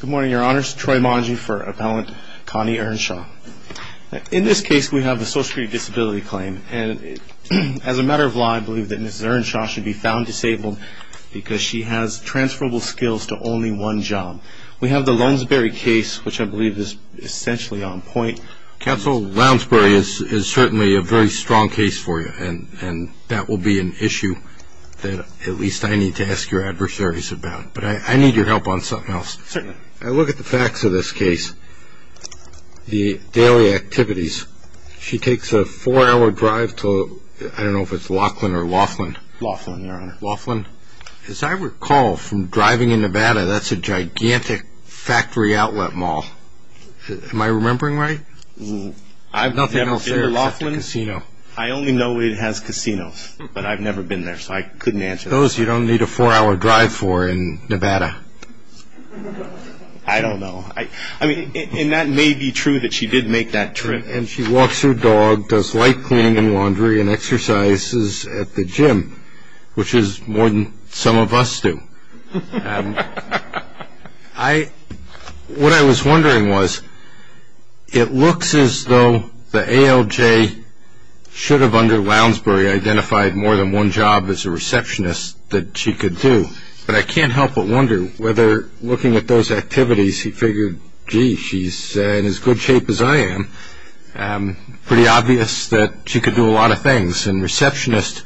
Good morning your honors, Troy Monge for appellant Connie Earnshaw. In this case we have a social disability claim and as a matter of law I believe that Mrs. Earnshaw should be found disabled because she has transferable skills to only one job. We have the Lounsbury case which I believe is essentially on point. Counsel, Lounsbury is certainly a very strong case for you and and that will be an issue that at least I need to ask your adversaries about but I need your help on something else. Certainly. I look at the facts of this case, the daily activities. She takes a four-hour drive to I don't know if it's Laughlin or Laughlin. Laughlin, your honor. Laughlin. As I recall from driving in Nevada that's a gigantic factory outlet mall. Am I remembering right? I've never been to Laughlin. I only know it has casinos but I've never been there so I couldn't answer. Those you don't need a four-hour drive for in Nevada. I don't know. I mean and that may be true that she did make that trip. And she walks her dog, does light cleaning and laundry, and exercises at the gym which is more than some of us do. I what I was wondering was it looks as though the ALJ should have under receptionist that she could do but I can't help but wonder whether looking at those activities he figured gee she's in as good shape as I am. Pretty obvious that she could do a lot of things and receptionist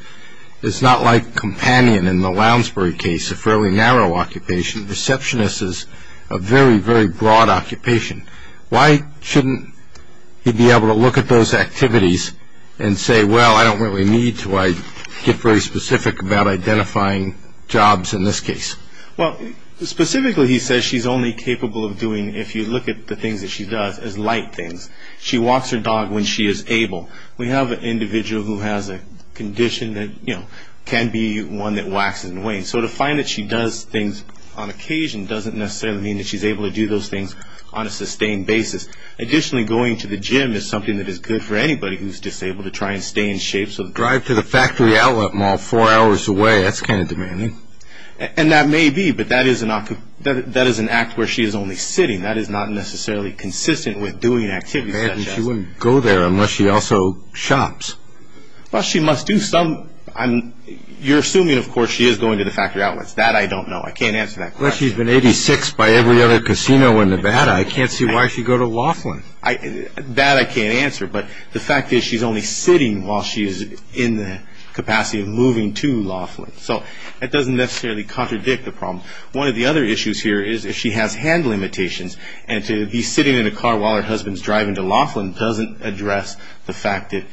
is not like companion in the Lounsbury case, a fairly narrow occupation. Receptionist is a very very broad occupation. Why shouldn't he be able to look at those activities and say well I don't really need to. I get very specific about identifying jobs in this case. Well specifically he says she's only capable of doing if you look at the things that she does as light things. She walks her dog when she is able. We have an individual who has a condition that you know can be one that waxes and wanes. So to find that she does things on occasion doesn't necessarily mean that she's able to do those things on a sustained basis. Additionally going to the gym is something that is good for anybody who's disabled to try and stay in shape. So the drive to the factory outlet mall four hours away that's kind of demanding. And that may be but that is an act where she is only sitting. That is not necessarily consistent with doing activities. Imagine she wouldn't go there unless she also shops. Well she must do some. I'm you're assuming of course she is going to the factory outlets. That I don't know. I can't answer that. But she's been 86 by every other casino in Nevada. I can't see why she'd go to Laughlin. That I can't answer. But the fact is she's only sitting while she is in the capacity of moving to Laughlin. So that doesn't necessarily contradict the problem. One of the other issues here is if she has hand limitations and to be sitting in a car while her husband's driving to Laughlin doesn't address the fact that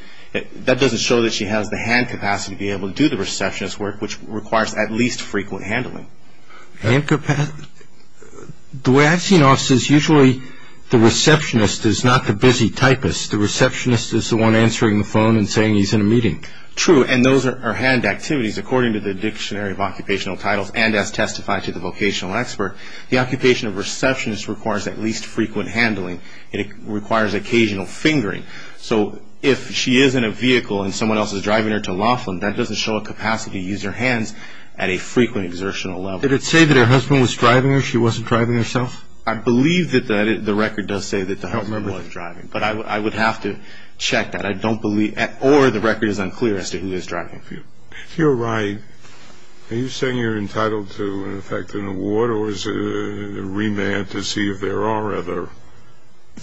that doesn't show that she has the hand capacity to be able to do the receptionist work which requires at least frequent handling. Hand capacity? The way I've seen it is usually the receptionist is not the busy typist. The receptionist is the one answering the phone and saying he's in a meeting. True and those are hand activities according to the dictionary of occupational titles and as testified to the vocational expert. The occupation of receptionist requires at least frequent handling. It requires occasional fingering. So if she is in a vehicle and someone else is driving her to Laughlin that doesn't show a capacity to use her hands at a frequent exertional level. Did it say that her husband was driving her? She wasn't driving herself? I believe that the record does say that the husband was driving. But I would have to check that. I don't believe or the record is unclear as to who is driving. If you're right, are you saying you're entitled to in effect an award or is it a remand to see if there are other?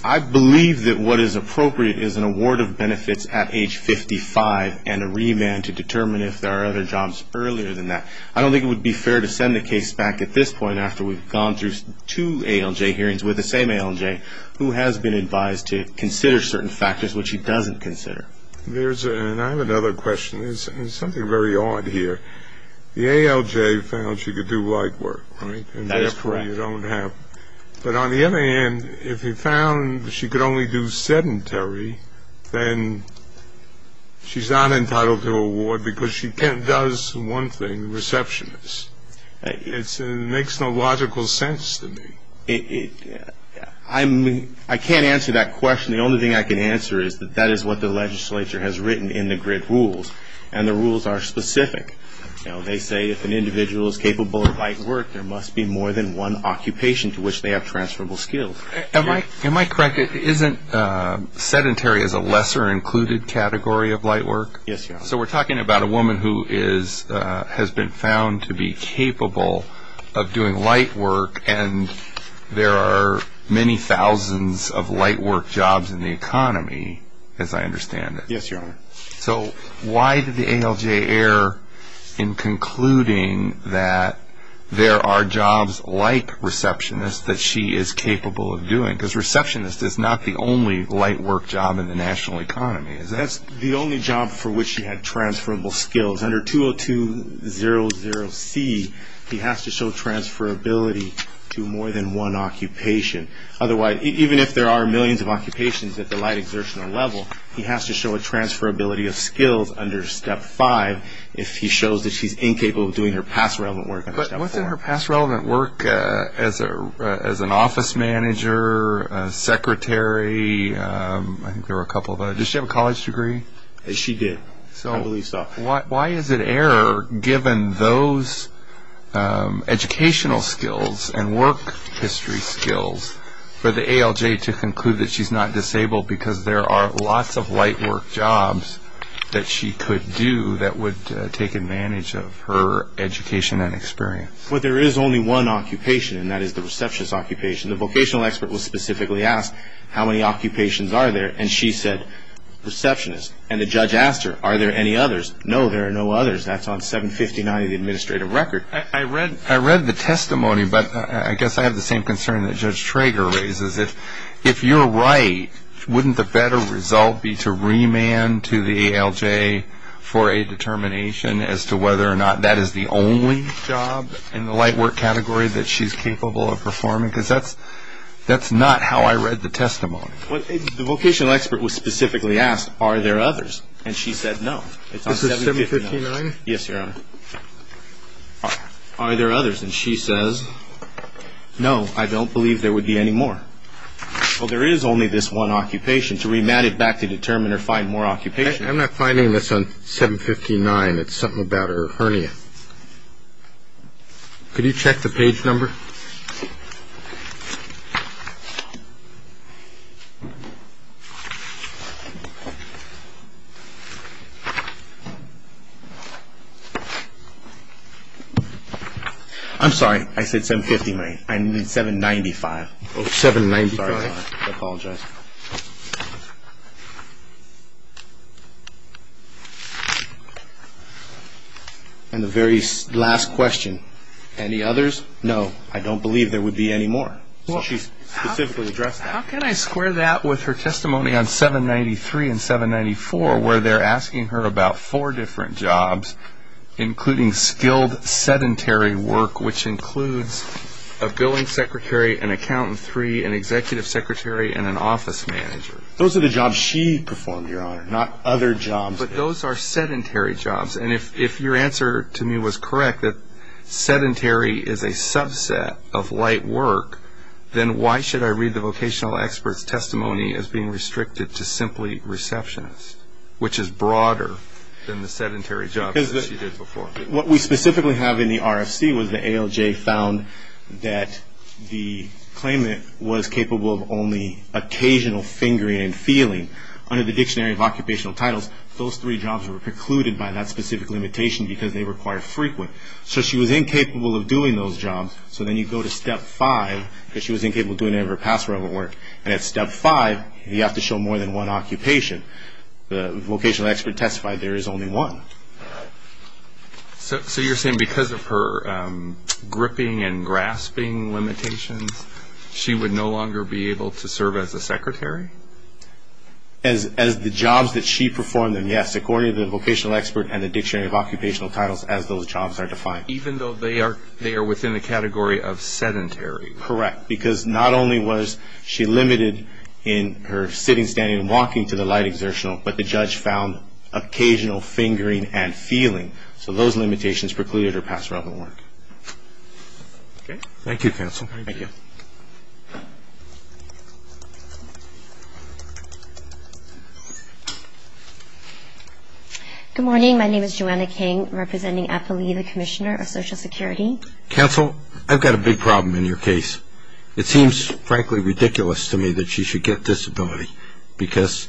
I believe that what is appropriate is an award of benefits at age 55 and a remand to determine if there are other jobs earlier than that. I don't think it would be fair to send the case back at this point after we've gone through two ALJ hearings with the same ALJ who has been advised to consider certain factors which he doesn't consider. There's and I have another question. There's something very odd here. The ALJ found she could do light work, right? That is correct. And therefore you don't have. But on the other hand if he found she could only do sedentary then she's not entitled to an award because she does one thing, receptionist. It makes no logical sense to me. I can't answer that question. The only thing I can answer is that that is what the legislature has written in the GRID rules and the rules are specific. They say if an individual is capable of light work there must be more than one occupation to which they have transferable skills. Am I correct? It isn't sedentary as a lesser included category of light work? Yes, Your Honor. So we're talking about a woman who is has been found to be capable of doing light work and there are many thousands of light work jobs in the economy as I understand it. Yes, Your Honor. So why did the ALJ err in concluding that there are jobs like receptionist that she is capable of doing? Because receptionist is not the only light work job in the national economy. That's the only job for which she had transferable skills. Under 202-00C he has to show transferability to more than one occupation. Otherwise, even if there are millions of occupations at the light exertional level, he has to show a transferability of skills under Step 5 if he shows that she's incapable of doing her past relevant work under Step 4. But wasn't her past relevant work as an office manager, a secretary, I think there were a couple of others. Did she have a college degree? She did. So why is it error given those educational skills and work history skills for the ALJ to conclude that she's not disabled because there are lots of light work jobs that she could do that would take advantage of her education and experience? Well, there is only one occupation and that is the receptionist occupation. The vocational expert was specifically asked how many occupations are there and she said, receptionist. And the judge asked her, are there any others? No, there are no others. That's on 759 of the administrative record. I read the testimony, but I guess I have the same concern that Judge Trager raises. If you're right, wouldn't the better result be to remand to the ALJ for a determination as to whether or not that is the only job in the light work category that she's capable of performing? Because that's not how I read the testimony. Well, the vocational expert was specifically asked, are there others? And she said, no. This is 759? Yes, Your Honor. Are there others? And she says, no, I don't believe there would be any more. Well, there is only this one occupation. To remand it back to determine or find more occupations I'm not finding this on 759. It's something about her hernia. Could you check the page number? I'm sorry. I said 759. I meant 795. 795. I apologize. And the very last question, any others? No, I don't believe there would be any more. She's specifically addressed that. How can I square that with her testimony on 793 and 794, where they're asking her about four different jobs, including skilled sedentary work, which includes a billing secretary, an accountant three, an executive secretary, and an office manager? Those are the jobs she performed, Your Honor, not other jobs. But those are sedentary jobs. And if your answer to me was correct, that sedentary is a subset of light work, then why should I read the vocational expert's testimony as being restricted to simply receptionist, which is broader than the sedentary job that she did before? What we specifically have in the RFC was the ALJ found that the claimant was capable of only occasional fingering and feeling. Under the Dictionary of Occupational Titles, those three jobs were precluded by that specific limitation because they were quite frequent. So she was incapable of doing those jobs. So then you go to Step 5, because she was incapable of doing any of her past relevant work. And at Step 5, you have to show more than one occupation. The vocational expert testified there is only one. So you're saying because of her gripping and grasping limitations, she would no longer be able to serve as a secretary? As the jobs that she performed, yes, according to the vocational expert and the Dictionary of Occupational Titles, as those jobs are defined. Even though they are within the category of sedentary. Correct. Because not only was she limited in her sitting, standing, and walking to the side exertional, but the judge found occasional fingering and feeling. So those limitations precluded her past relevant work. Thank you, Counsel. Thank you. Good morning. My name is Joanna King, representing Eppley, the Commissioner of Social Security. Counsel, I've got a big problem in your case. It seems frankly ridiculous to me that she should get disability because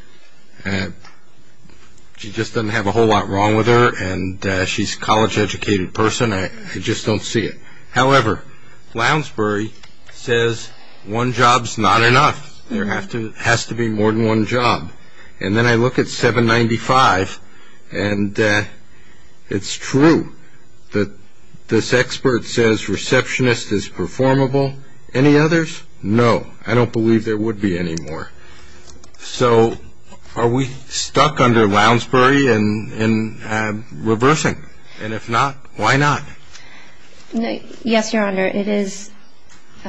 she just doesn't have a whole lot wrong with her, and she's a college-educated person. I just don't see it. However, Lounsbury says one job's not enough. There has to be more than one job. And then I look at 795, and it's true that this expert says receptionist is performable. Any others? No. I don't believe there would be any more. So are we stuck under Lounsbury in reversing? And if not, why not? Yes, Your Honor. It is –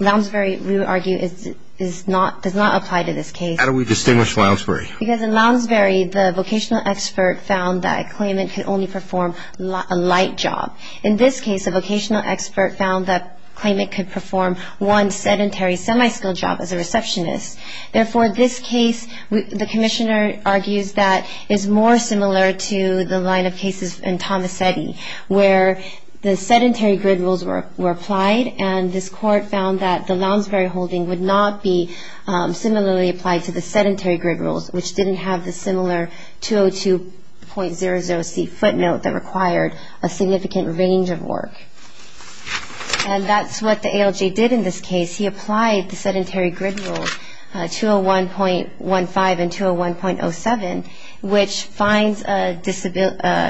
Lounsbury, we would argue, is not – does not apply to this case. How do we distinguish Lounsbury? Because in Lounsbury, the vocational expert found that a claimant could only perform a light job. In this case, a vocational expert found that a claimant could perform one sedentary semi-skilled job as a receptionist. Therefore, this case, the commissioner argues that is more similar to the line of cases in Tomasetti, where the sedentary grid rules were applied, and this court found that the Lounsbury holding would not be similarly applied to the sedentary grid rules, which didn't have the similar 202.00c footnote that required a significant range of work. And that's what the ALJ did in this case. He applied the sedentary grid rules 201.15 and 201.07, which finds a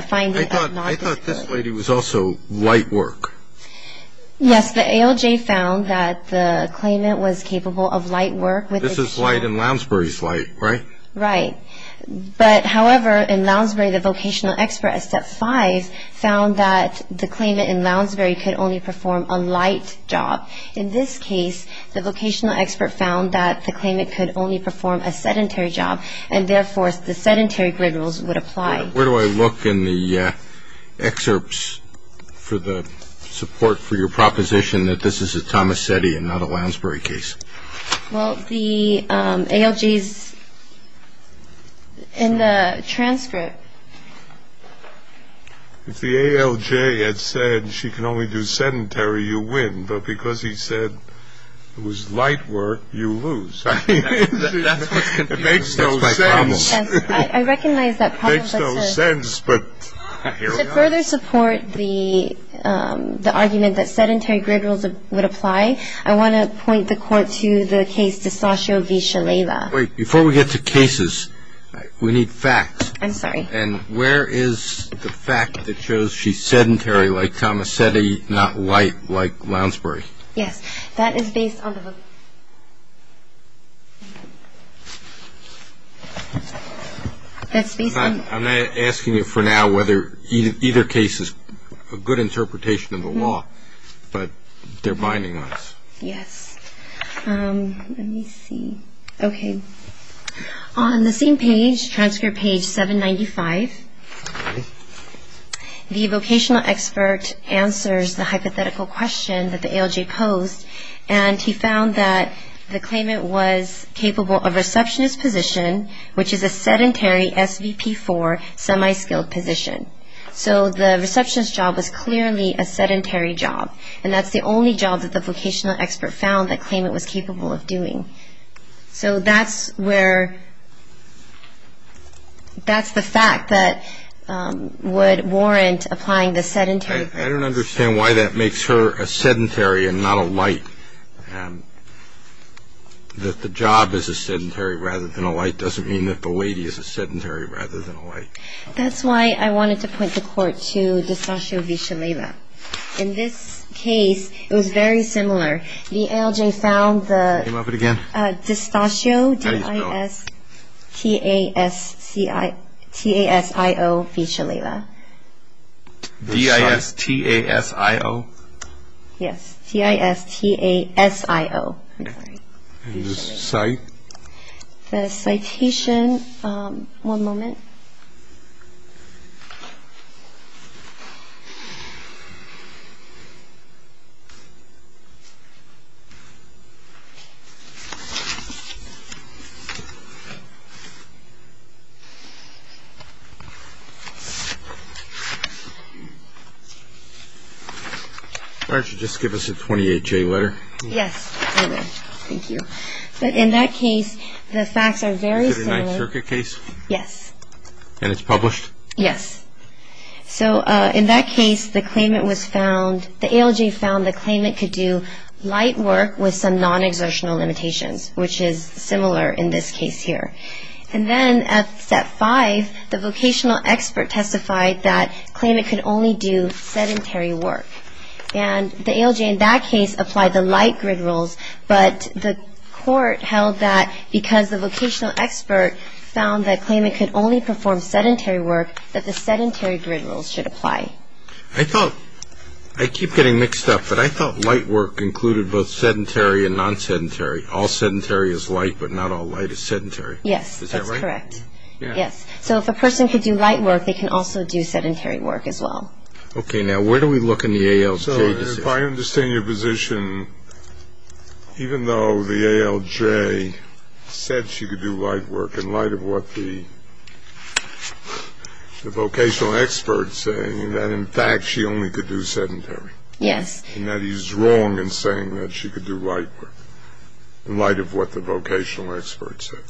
– finds a non-disability. I thought – I thought this lady was also light work. Yes, the ALJ found that the claimant was capable of light work with a – This is light in Lounsbury's light, right? Right. But, however, in Lounsbury, the vocational expert at step five found that the claimant in Lounsbury could only perform a light job. In this case, the vocational expert found that the claimant could only perform a sedentary job, and therefore, the sedentary grid rules would apply. Where do I look in the excerpts for the support for your proposition that this is a Tomasetti and not a Lounsbury case? Well, the ALJ's – in the transcript. If the ALJ had said she can only do sedentary, you win. But because he said it was light work, you lose. That's what's confusing. It makes no sense. That's my problem. I recognize that problem. It makes no sense, but here we are. To further support the – the argument that sedentary grid rules would apply, I want to report to the case D'Estacio v. Shalala. Wait. Before we get to cases, we need facts. I'm sorry. And where is the fact that shows she's sedentary like Tomasetti, not light like Lounsbury? Yes. That is based on the – that's based on – I'm not asking you for now whether either case is a good interpretation of the law, but they're binding on us. Yes. Let me see. Okay. On the same page, transcript page 795, the vocational expert answers the hypothetical question that the ALJ posed, and he found that the claimant was capable of receptionist position, which is a sedentary SVP4 semi-skilled position. So the receptionist job was clearly a sedentary job, and that's the only job that the vocational expert found that claimant was capable of doing. So that's where – that's the fact that would warrant applying the sedentary – I don't understand why that makes her a sedentary and not a light. That the job is a sedentary rather than a light doesn't mean that the lady is a sedentary rather than a light. That's why I wanted to point the Court to D'Estacio v. Shalala. In this case, it was very similar. The ALJ found the – Name of it again? D'Estacio, D-I-S-T-A-S-I-O v. Shalala. D-I-S-T-A-S-I-O? Yes. D-I-S-T-A-S-I-O. And the citation? The citation – one moment. Why don't you just give us a 28-J letter? Yes, I will. Thank you. But in that case, the facts are very similar. Is it a Ninth Circuit case? Yes. And it's published? Yes. So in that case, the claimant was found – the ALJ found the claimant could do light work with some non-exertional limitations, which is similar in this case here. And then at Step 5, the vocational expert testified that the claimant could only do sedentary work. And the ALJ in that case applied the light grid rules, but the court held that because the vocational expert found the claimant could only perform sedentary work, that the sedentary grid rules should apply. I thought – I keep getting mixed up, but I thought light work included both sedentary and non-sedentary. All sedentary is light, but not all light is sedentary. Yes, that's correct. Is that right? Yes. So if a person could do light work, they can also do sedentary work as well. Okay. Now, where do we look in the ALJ? So if I understand your position, even though the ALJ said she could do light work in light of what the vocational expert is saying, that in fact she only could do sedentary. Yes. And that is wrong in saying that she could do light work in light of what the vocational expert said.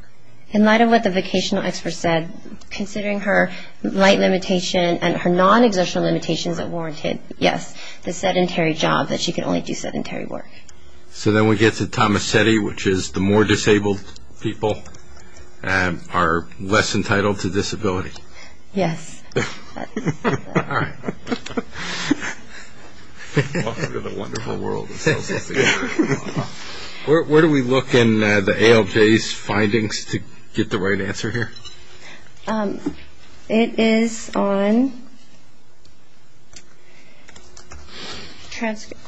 In light of what the vocational expert said, considering her light limitation and her non-exertional limitations, it warranted, yes, the sedentary job, that she could only do sedentary work. So then we get to Tomasetti, which is the more disabled people are less entitled to disability. Yes. All right. Walks into the wonderful world. Where do we look in the ALJ's findings to get the right answer here? It is on transcript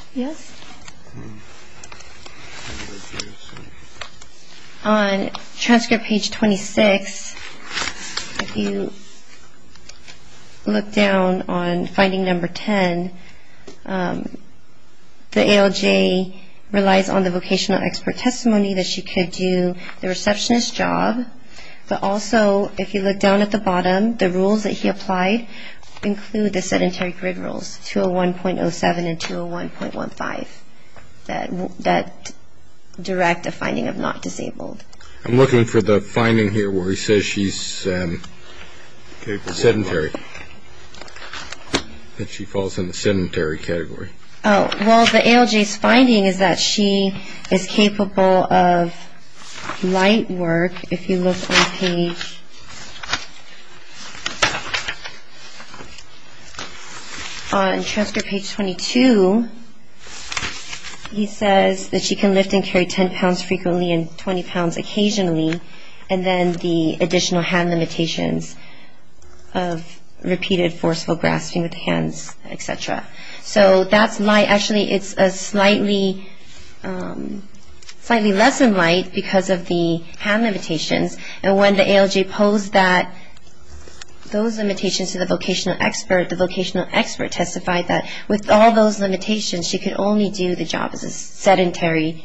page 26. If you look down on finding number 10, the ALJ relies on the vocational expert testimony that she could do the receptionist's job. But also, if you look down at the bottom, the rules that he applied include the sedentary grid rules, 201.07 and 201.15, that direct a finding of not disabled. I'm looking for the finding here where he says she's sedentary, that she falls in the sedentary category. Well, the ALJ's finding is that she is capable of light work. If you look on page 22, he says that she can lift and carry 10 pounds frequently and 20 pounds occasionally, and then the additional hand limitations of repeated forceful grasping with hands, et cetera. So that's light. Actually, it's slightly less than light because of the hand limitations. And when the ALJ posed those limitations to the vocational expert, the vocational expert testified that with all those limitations, she could only do the job as a sedentary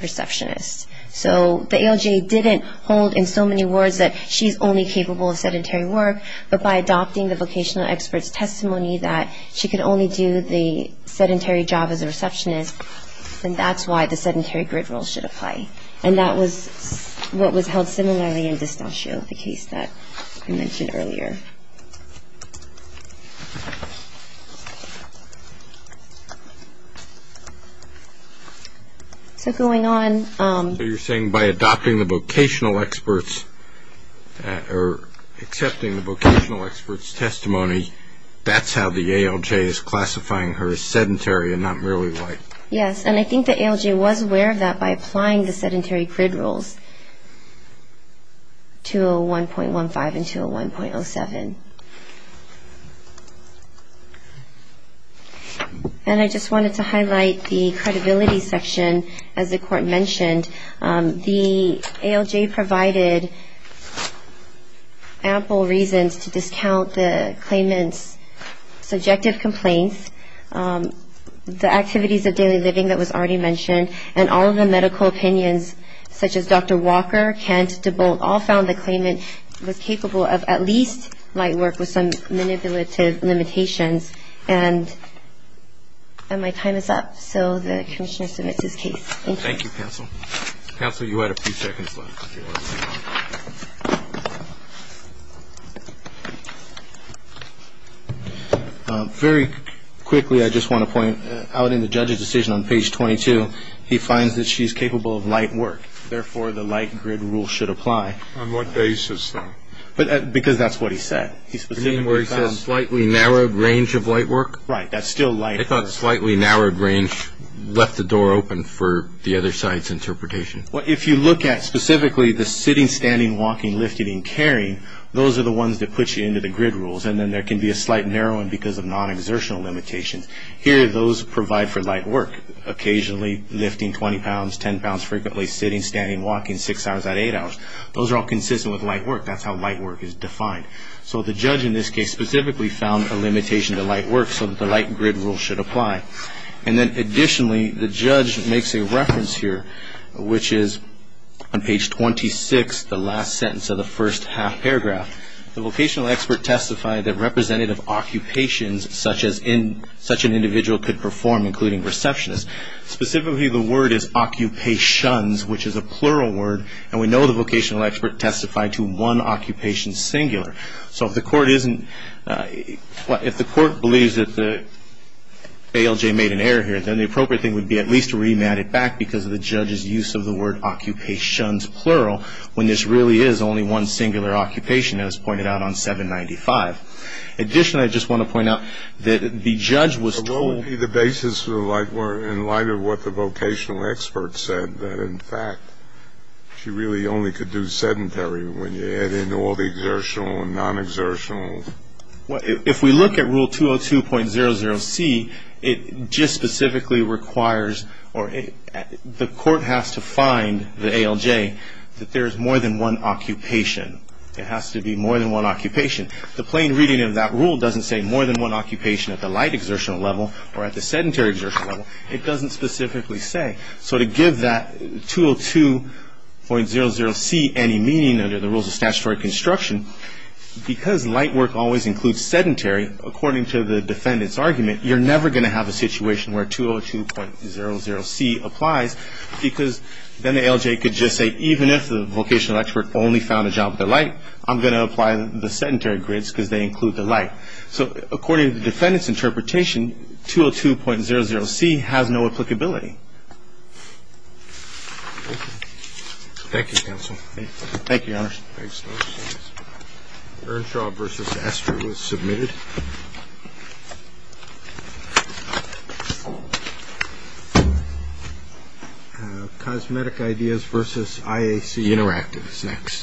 receptionist. So the ALJ didn't hold in so many words that she's only capable of sedentary work, but by adopting the vocational expert's testimony that she could only do the sedentary job as a receptionist, then that's why the sedentary grid rule should apply. And that was what was held similarly in D'Eustachio, the case that I mentioned earlier. So going on. So you're saying by adopting the vocational expert's or accepting the vocational expert's testimony, that's how the ALJ is classifying her as sedentary and not merely light. Yes, and I think the ALJ was aware of that by applying the sedentary grid rules, 201.15 and 201.07. And I just wanted to highlight the credibility section, as the Court mentioned. The ALJ provided ample reasons to discount the claimant's subjective complaints, the activities of daily living that was already mentioned, and all of the medical opinions such as Dr. Walker, Kent, DeBolt, all found the claimant was capable of at least light work with some manipulative limitations. And my time is up, so the Commissioner submits his case. Thank you. Thank you, counsel. Counsel, you had a few seconds left. Very quickly, I just want to point out in the judge's decision on page 22, he finds that she's capable of light work. Therefore, the light grid rule should apply. On what basis, though? Because that's what he said. He specifically found slightly narrowed range of light work. Right, that's still light work. He thought slightly narrowed range left the door open for the other side's interpretation. Well, if you look at specifically the sitting, standing, walking, lifting, and carrying, those are the ones that put you into the grid rules. And then there can be a slight narrowing because of non-exertional limitations. Here, those provide for light work. Occasionally, lifting 20 pounds, 10 pounds frequently, sitting, standing, walking, six hours out of eight hours, those are all consistent with light work. That's how light work is defined. So the judge in this case specifically found a limitation to light work so that the light grid rule should apply. And then additionally, the judge makes a reference here, which is on page 26, the last sentence of the first half paragraph. The vocational expert testified that representative occupations such an individual could perform, including receptionist. Specifically, the word is occupations, which is a plural word, and we know the vocational expert testified to one occupation singular. So if the court believes that the ALJ made an error here, then the appropriate thing would be at least to remand it back because of the judge's use of the word plural when this really is only one singular occupation, as pointed out on 795. Additionally, I just want to point out that the judge was told the basis of the light work in light of what the vocational expert said, that, in fact, she really only could do sedentary when you add in all the exertional and non-exertional. If we look at Rule 202.00c, it just specifically requires or the court has to find the ALJ that there is more than one occupation. It has to be more than one occupation. The plain reading of that rule doesn't say more than one occupation at the light exertional level or at the sedentary exertional level. It doesn't specifically say. So to give that 202.00c any meaning under the rules of statutory construction, because light work always includes sedentary, according to the defendant's argument, you're never going to have a situation where 202.00c applies because then the ALJ could just say even if the vocational expert only found a job at the light, I'm going to apply the sedentary grids because they include the light. So according to the defendant's interpretation, 202.00c has no applicability. Thank you, Your Honor. Thanks, folks. Earnshaw v. Estre was submitted. Cosmetic Ideas v. IAC Interactive is next.